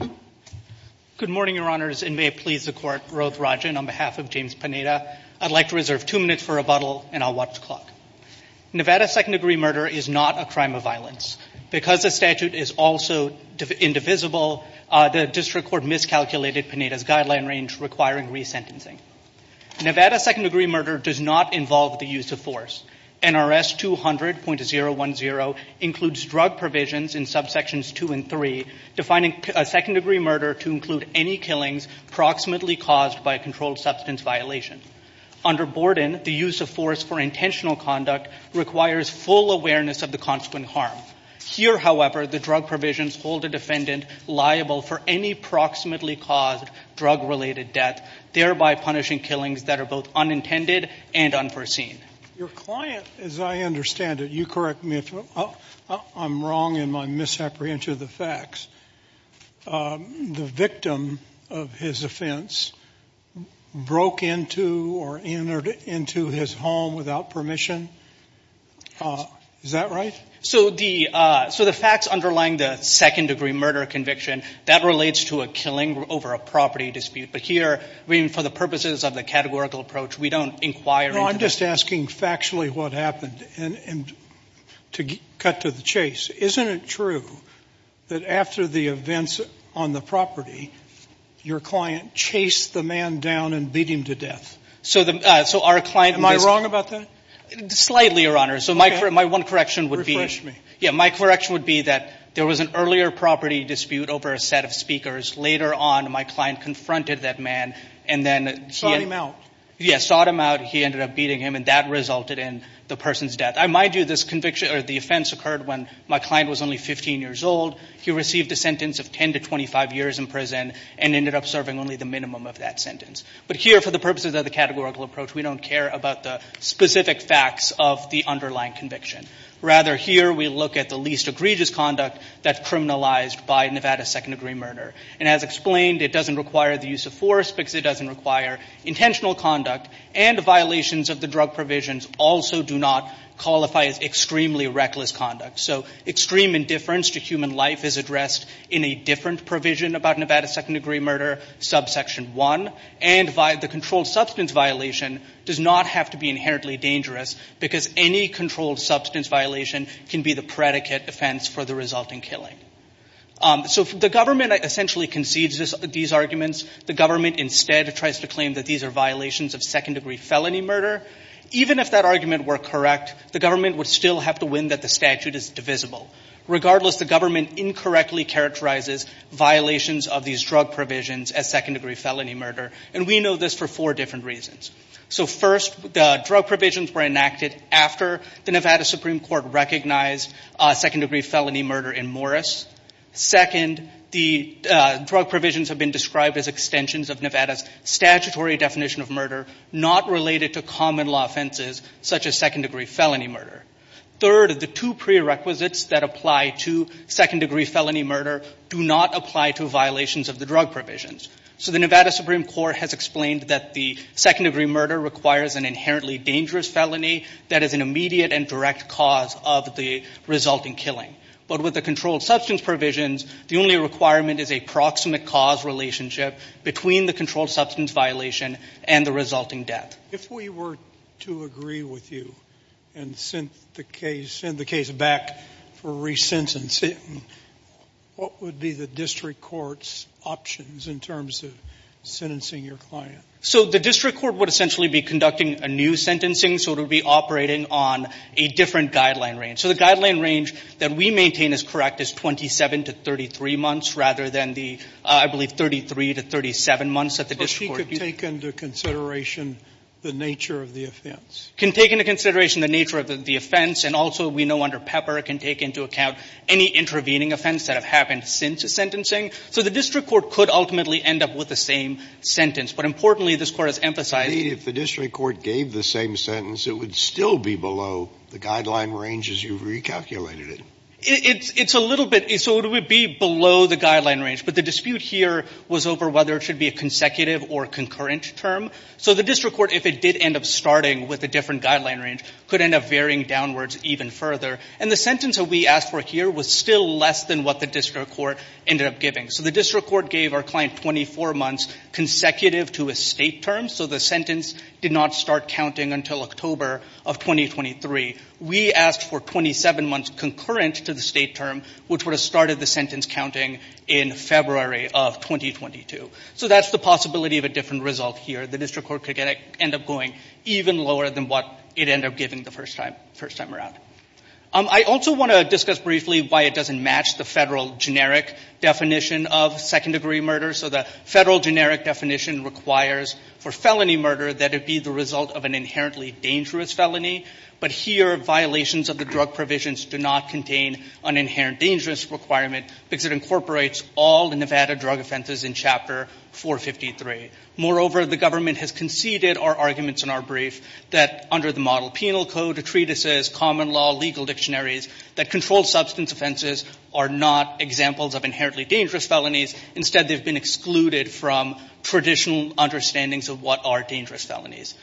I would like to reserve two minutes for rebuttal and I will watch the clock. Nevada second-degree murder is not a crime of violence. Because the statute is also indivisible, the district court miscalculated Pineda's guideline range requiring resentencing. Nevada second-degree murder does not involve the use of force. NRS 200.010 includes drug provisions in subsections two and three, defining a second-degree murder to include any killings proximately caused by a controlled substance violation. Under Borden, the use of force for intentional conduct requires full awareness of the consequent harm. Here, however, the drug provisions hold a defendant liable for any proximately caused drug-related death, thereby punishing killings that are both unintended and unforeseen. Your client, as I understand it, you correct me I'm wrong in my misapprehension of the facts. The victim of his offense broke into or entered into his home without permission? Is that right? So the facts underlying the second-degree murder conviction, that relates to a killing over a property dispute. But here, for the purposes of the categorical approach, we don't inquire into that. No, I'm just asking factually what happened. And to cut to the chase, isn't it true that after the events on the property, your client chased the man down and beat him to death? Am I wrong about that? Slightly, Your Honor. My one correction would be that there was an earlier property dispute over a set of speakers. Later on, my client confronted that man and then sought him out. He ended up beating him and that resulted in the person's death. I might do this conviction or the offense occurred when my client was only 15 years old. He received a sentence of 10 to 25 years in prison and ended up serving only the minimum of that sentence. But here, for the purposes of the categorical approach, we don't care about the specific facts of the underlying conviction. Rather, here we look at the least egregious conduct that criminalized by Nevada second-degree murder. And as explained, it doesn't require the use of force because it doesn't require intentional conduct. And violations of the drug provisions also do not qualify as extremely reckless conduct. So extreme indifference to human life is addressed in a different provision about Nevada second-degree murder, subsection 1. And the controlled substance violation does not have to be inherently dangerous because any controlled substance violation can be the predicate offense for the resulting killing. So the government essentially concedes these arguments. The government instead tries to claim that these are violations of second-degree felony murder. Even if that argument were correct, the government would still have to win that the statute is divisible. Regardless, the government incorrectly characterizes violations of these drug provisions as second-degree felony murder. And we know this for four different reasons. So first, the drug provisions were enacted after the Nevada Supreme Court recognized second-degree felony murder in Morris. Second, the drug provisions have been described as extensions of Nevada's statutory definition of murder, not related to common law offenses such as second-degree felony murder. Third, the two prerequisites that apply to second-degree felony murder do not apply to violations of the drug provisions. So the Nevada Supreme Court has explained that the second-degree murder requires an inherently dangerous felony that is an immediate and direct cause of the resulting killing. But with the controlled substance provisions, the only requirement is a proximate cause relationship between the controlled substance violation and the resulting death. If we were to agree with you and send the case back for re-sentencing, what would be the district court's options in terms of sentencing your client? So the district court would essentially be conducting a new sentencing. So it would be operating on a different guideline range. So the guideline range that we maintain is correct is 27 to 33 months, rather than the, I believe, 33 to 37 months that the district court used. But she could take into consideration the nature of the offense. Can take into consideration the nature of the offense. And also, we know under Pepper can take into account any intervening offense that have happened since the sentencing. So the district court could ultimately end up with the same sentence. But importantly, this Court has emphasized that if the district court gave the same sentence, it would still be below the guideline range as you've recalculated it. It's a little bit. So it would be below the guideline range. But the dispute here was over whether it should be a consecutive or concurrent term. So the district court, if it did end up starting with a different guideline range, could end up varying downwards even further. And the sentence that we asked for here was still less than what the district court ended up giving. So the district court gave our client 24 months consecutive to a state term. So the sentence did not start counting until October of 2023. We asked for 27 months concurrent to the state term, which would have started the sentence counting in February of 2022. So that's the possibility of a different result here. The district court could end up going even lower than what it ended up giving the first time around. I also want to discuss briefly why it doesn't match the federal generic definition of second-degree murder. So the federal generic definition requires for felony murder that it be the result of an inherently dangerous felony. But here, violations of the drug provisions do not contain an inherent dangerous requirement because it incorporates all the Nevada drug offenses in Chapter 453. Moreover, the government has conceded our arguments in our brief that under the model penal code, the treatises, common law, legal dictionaries, that controlled substance offenses are not examples of inherently dangerous felonies. Instead, they've been excluded from traditional understandings of what are dangerous felonies.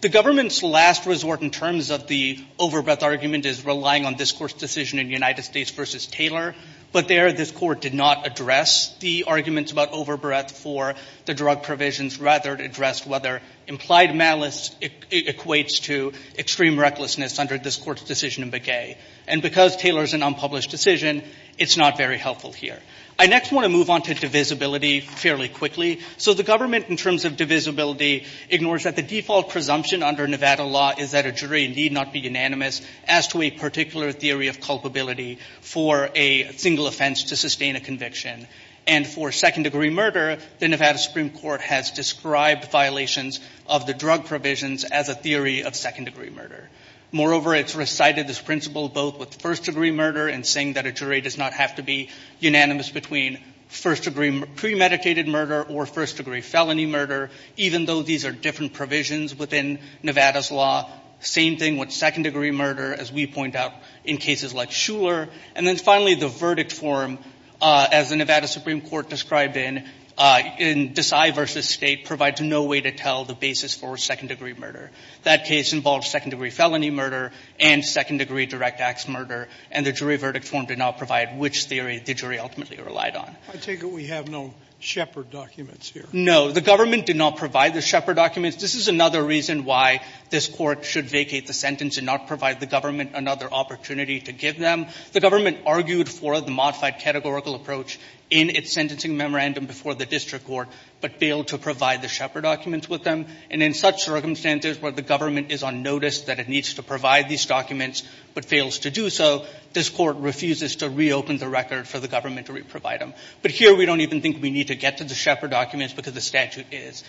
The government's last resort in terms of the over-breath argument is relying on this court's decision in United States v. Taylor. But there, this court did not address the arguments about over-breath for the drug provisions, rather it addressed whether implied malice equates to extreme recklessness under this court's decision in Begay. And because Taylor's an unpublished decision, it's not very helpful here. I next want to move on to divisibility fairly quickly. So the government in terms of divisibility ignores that the default presumption under Nevada law is that a jury need not be unanimous as to a particular theory of culpability for a single offense to sustain a conviction. And for second-degree murder, the Nevada Supreme Court has described violations of the drug provisions as a theory of second-degree murder. Moreover, it's recited this principle both with first-degree murder and saying that a jury does not have to be unanimous between first-degree premeditated murder or first-degree felony murder, even though these are different provisions within Nevada's law. Same thing with second-degree murder, as we point out in cases like Shuler. And then finally, the verdict form, as the Nevada Supreme Court described in Desai v. State, provides no way to tell the basis for second-degree murder. That case involved second-degree felony murder and second-degree direct acts murder, and the jury verdict form did not provide which theory the jury ultimately relied on. I take it we have no Shepard documents here. No. The government did not provide the Shepard documents. This is another reason why this court should vacate the sentence and not provide the government another opportunity to give them. The government argued for the modified categorical approach in its sentencing memorandum before the district court, but failed to provide the Shepard documents with them. And in such circumstances where the government is on notice that it needs to provide these documents but fails to do so, this court refuses to reopen the record for the government to re-provide them. But here, we don't even think we need to get to the Shepard documents because the statute is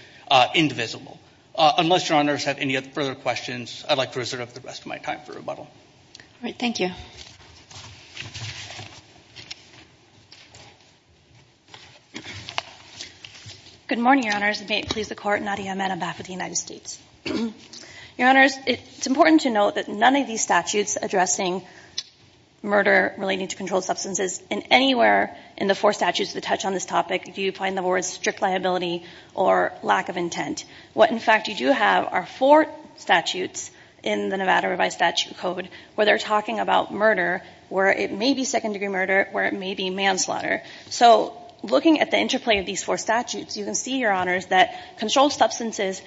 indivisible. Unless Your Honors have any further questions, I'd like to reserve the rest of my time for All right. Thank you. Good morning, Your Honors. May it please the Court, Nadia Ahmed, on behalf of the United States. Your Honors, it's important to note that none of these statutes addressing murder relating to controlled substances in anywhere in the four statutes that touch on this topic do you find the words strict liability or lack of intent. What in fact you do have are four statutes in the Nevada Revised Statute Code where they're talking about murder, where it may be second-degree murder, where it may be manslaughter. So looking at the interplay of these four statutes, you can see, Your Honors, that controlled substances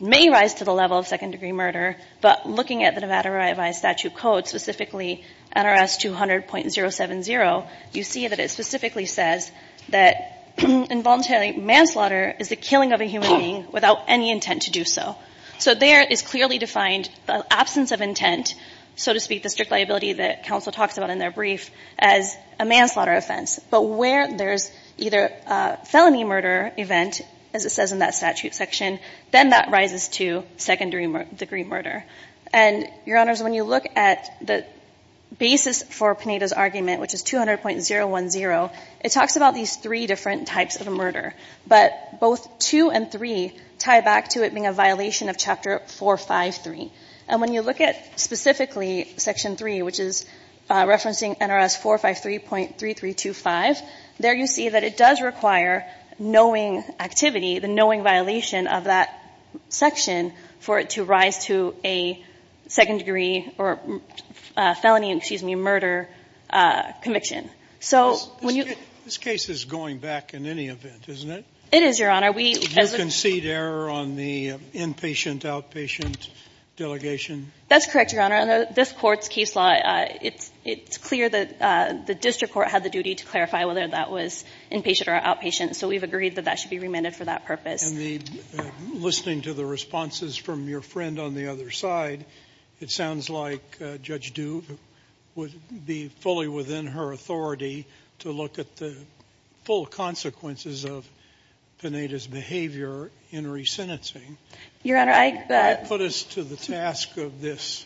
may rise to the level of second-degree murder, but looking at the Nevada Revised Statute Code, specifically NRS 200.070, you see that it specifically says that involuntary manslaughter is the killing of a human being without any intent to do so. So there is clearly defined the absence of intent, so to speak, the strict liability that counsel talks about in their brief, as a manslaughter offense. But where there's either a felony murder event, as it says in that statute section, then that rises to second-degree murder. And Your Honors, when you look at the basis for Panetta's argument, which is 200.010, it talks about these three different types of murder, but both two and three tie back to it being a violation of Chapter 453. And when you look at specifically Section 3, which is referencing NRS 453.3325, there you see that it does require knowing activity, the knowing violation of that section for it to rise to a second-degree or felony, excuse me, murder conviction. This case is going back in any event, isn't it? It is, Your Honor. Did you concede error on the inpatient, outpatient delegation? That's correct, Your Honor. This Court's case law, it's clear that the district court had the duty to clarify whether that was inpatient or outpatient. So we've agreed that that should be remanded for that purpose. And listening to the responses from your friend on the other side, it sounds like Judge Sotomayor has more authority to look at the full consequences of Panetta's behavior in resentencing. Your Honor, I put us to the task of this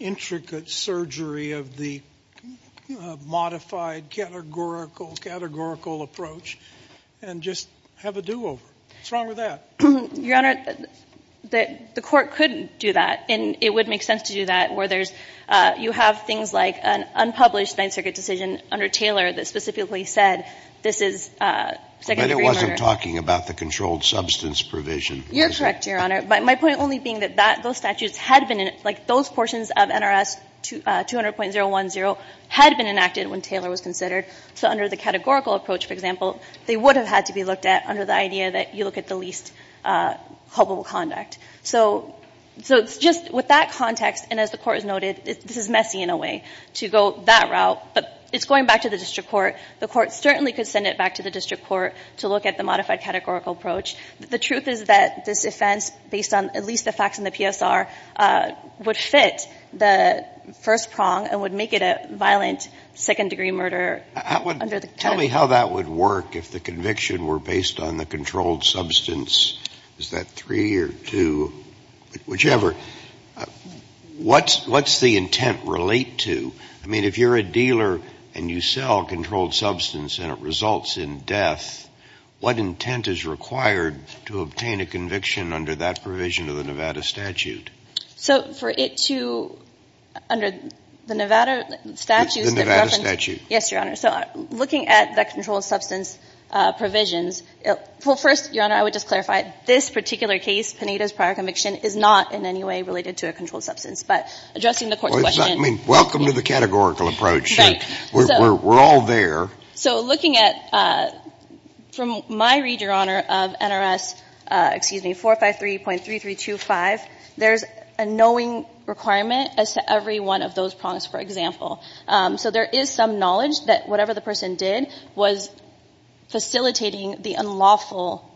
intricate surgery of the modified categorical approach, and just have a do-over. What's wrong with that? Your Honor, the Court could do that, and it would make sense to do that where you have things like an unpublished Ninth Circuit decision under Taylor that specifically said this is second-degree murder. But it wasn't talking about the controlled substance provision. You're correct, Your Honor. My point only being that those statutes had been in, like, those portions of NRS 200.010 had been enacted when Taylor was considered. So under the categorical approach, for example, they would have had to be looked at under the idea that you look at the least culpable conduct. So just with that context, and as the Court has noted, this is messy in a way to go that route. But it's going back to the district court. The Court certainly could send it back to the district court to look at the modified categorical approach. The truth is that this offense, based on at least the facts in the PSR, would fit the first prong and would make it a violent second-degree murder under the category. Tell me how that would work if the conviction were based on the controlled substance. Is that three or two? Whichever. What's the intent relate to? I mean, if you're a dealer and you sell controlled substance and it results in death, what intent is required to obtain a conviction under that provision of the Nevada statute? So for it to under the Nevada statute, the reference to the Nevada statute. Yes, Your Honor. So looking at the controlled substance provisions, well, first, Your Honor, I would like to just clarify, this particular case, Pineda's prior conviction, is not in any way related to a controlled substance, but addressing the Court's question. I mean, welcome to the categorical approach. We're all there. So looking at, from my read, Your Honor, of NRS 453.3325, there's a knowing requirement as to every one of those prongs, for example. So there is some knowledge that whatever the person did was facilitating the unlawful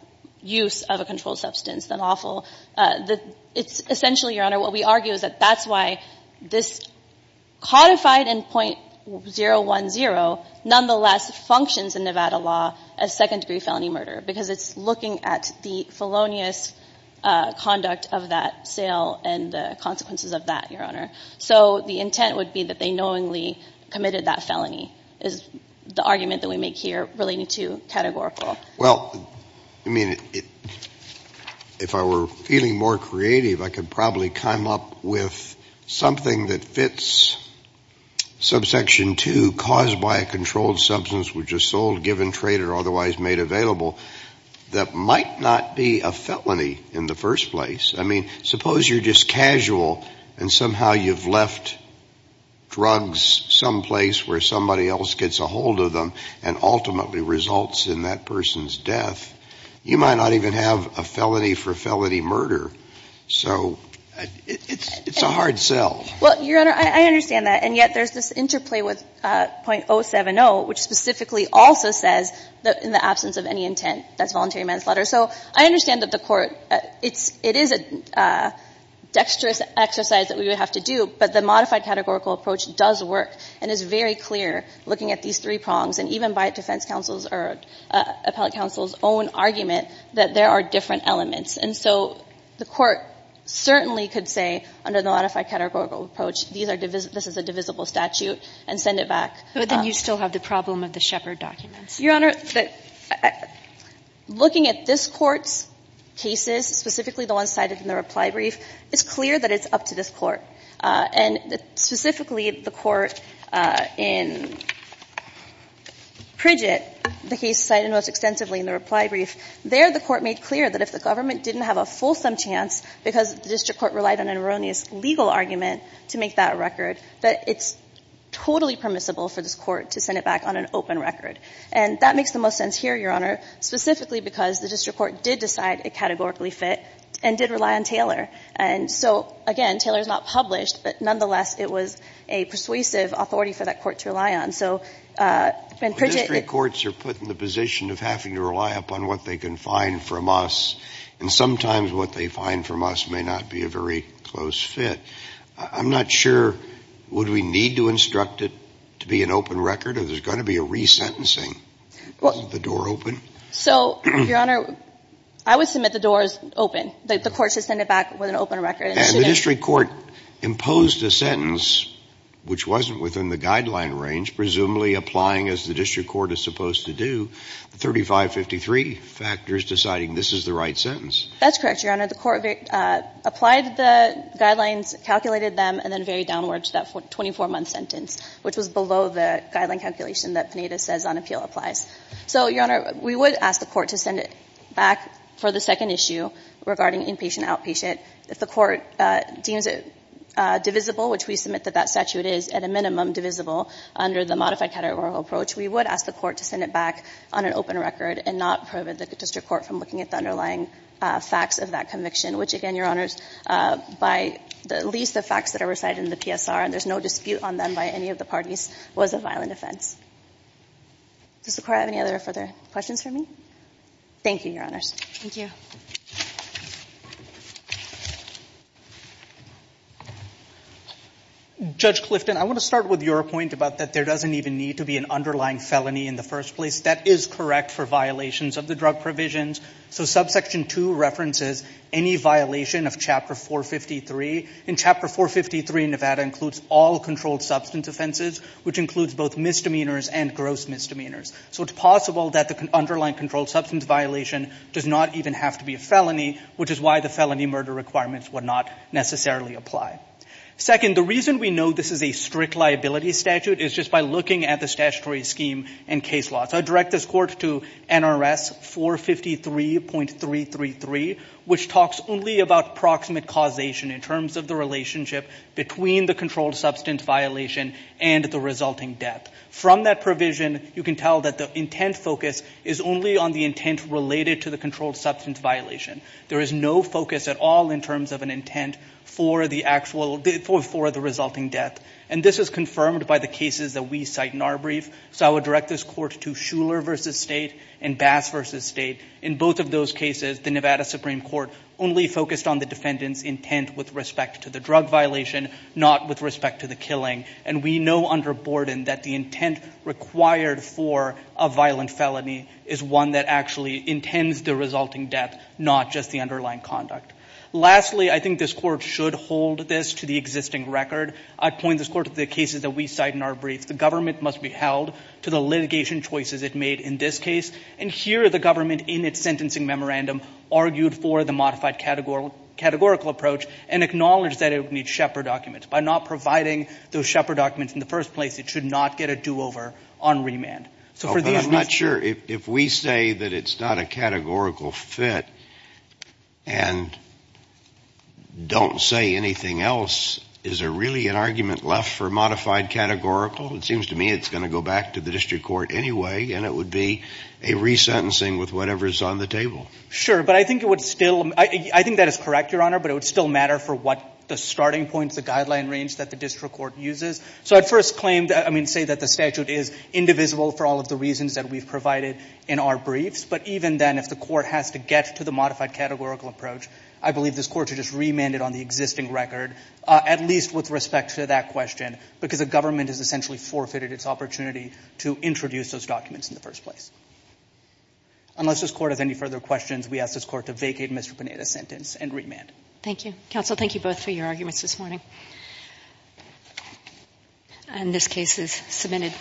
use of a controlled substance, unlawful. It's essentially, Your Honor, what we argue is that that's why this codified in .010, nonetheless, functions in Nevada law as second-degree felony murder, because it's looking at the felonious conduct of that sale and the consequences of that, Your Honor. So the intent would be that they knowingly committed that felony, is the argument that we make here relating to categorical. Well, I mean, if I were feeling more creative, I could probably come up with something that fits subsection 2, caused by a controlled substance which is sold, given, traded, or otherwise made available, that might not be a felony in the first place. I mean, suppose you're just casual and somehow you've left drugs someplace where somebody else gets a hold of them and ultimately results in that person's death. You might not even have a felony for felony murder. So it's a hard sell. Well, Your Honor, I understand that. And yet there's this interplay with .070, which specifically also says that in the absence of any intent, that's voluntary manslaughter. So I understand that the court, it is a dexterous exercise that we would have to do. But the modified categorical approach does work and is very clear, looking at these three prongs, and even by defense counsel's or appellate counsel's own argument that there are different elements. And so the court certainly could say under the modified categorical approach, this is a divisible statute, and send it back. But then you still have the problem of the Shepard documents. Your Honor, looking at this Court's cases, specifically the ones cited in the reply brief, it's clear that it's up to this Court. And specifically, the Court in Pridget, the case cited most extensively in the reply brief, there the Court made clear that if the government didn't have a fulsome chance, because the district court relied on an erroneous legal argument to make that record, that it's totally permissible for this court to send it back on an open record. And that makes the most sense here, Your Honor, specifically because the district court did decide it categorically fit and did rely on Taylor. And so, again, Taylor is not published, but nonetheless, it was a persuasive authority for that court to rely on. So in Pridget the Court's are put in the position of having to rely upon what they can find from us, and sometimes what they find from us may not be a very close fit. I'm not sure would we need to instruct it to be an open record, or there's going to be a resentencing, the door open? So, Your Honor, I would submit the door is open. The Court should send it back with an open record. And the district court imposed a sentence which wasn't within the guideline range, presumably applying as the district court is supposed to do, the 3553 factors deciding this is the right sentence. That's correct, Your Honor. The Court applied the guidelines, calculated them, and then varied downward to that 24-month sentence, which was below the guideline calculation that Pineda says on appeal applies. So, Your Honor, we would ask the Court to send it back for the second issue regarding inpatient, outpatient. If the Court deems it divisible, which we submit that that statute is at a minimum divisible under the modified categorical approach, we would ask the Court to send it back on an open record and not prohibit the district court from looking at the underlying facts of that conviction, which, again, Your Honors, by at least the facts that are recited in the PSR, and there's no dispute on them by any of the parties, was a violent offense. Does the Court have any other further questions for me? Thank you, Your Honors. Thank you. Judge Clifton, I want to start with your point about that there doesn't even need to be an underlying felony in the first place. That is correct for violations of the drug provisions. So, subsection 2 references any violation of Chapter 453. In Chapter 453, Nevada includes all controlled substance offenses, which includes both misdemeanors and gross misdemeanors. So, it's possible that the underlying controlled substance violation does not even have to be a felony, which is why the felony murder requirements would not necessarily apply. Second, the reason we know this is a strict liability statute is just by looking at the statutory scheme and case law. So, I direct this Court to NRS 453.333, which talks only about proximate causation in terms of the relationship between the controlled substance violation and the resulting death. From that provision, you can tell that the intent focus is only on the intent related to the controlled substance violation. There is no focus at all in terms of an intent for the actual, for the resulting death. And this is confirmed by the cases that we cite in our brief. So, I would direct this Court to Shuler v. State and Bass v. In both of those cases, the Nevada Supreme Court only focused on the defendant's intent with respect to the drug violation, not with respect to the killing. And we know under Borden that the intent required for a violent felony is one that actually intends the resulting death, not just the underlying conduct. Lastly, I think this Court should hold this to the existing record. I point this Court to the cases that we cite in our brief. The government must be held to the litigation choices it made in this case. And here, the government, in its sentencing memorandum, argued for the modified categorical approach and acknowledged that it would need Shepard documents. By not providing those Shepard documents in the first place, it should not get a do-over on remand. So, for the at least... But I'm not sure, if we say that it's not a categorical fit and don't say anything else, is there really an argument left for modified categorical? It seems to me it's going to go back to the district court anyway, and it would be a resentencing with whatever's on the table. Sure. But I think it would still, I think that is correct, Your Honor, but it would still matter for what the starting point, the guideline range that the district court uses. So, at first claim, I mean, say that the statute is indivisible for all of the reasons that we've provided in our briefs. But even then, if the court has to get to the modified categorical approach, I believe this Court should just remand it on the existing record, at least with respect to that question, because the government has essentially forfeited its opportunity to introduce those documents in the first place. Unless this Court has any further questions, we ask this Court to vacate Mr. Panetta's sentence and remand. Thank you. Counsel, thank you both for your arguments this morning. And this case is submitted.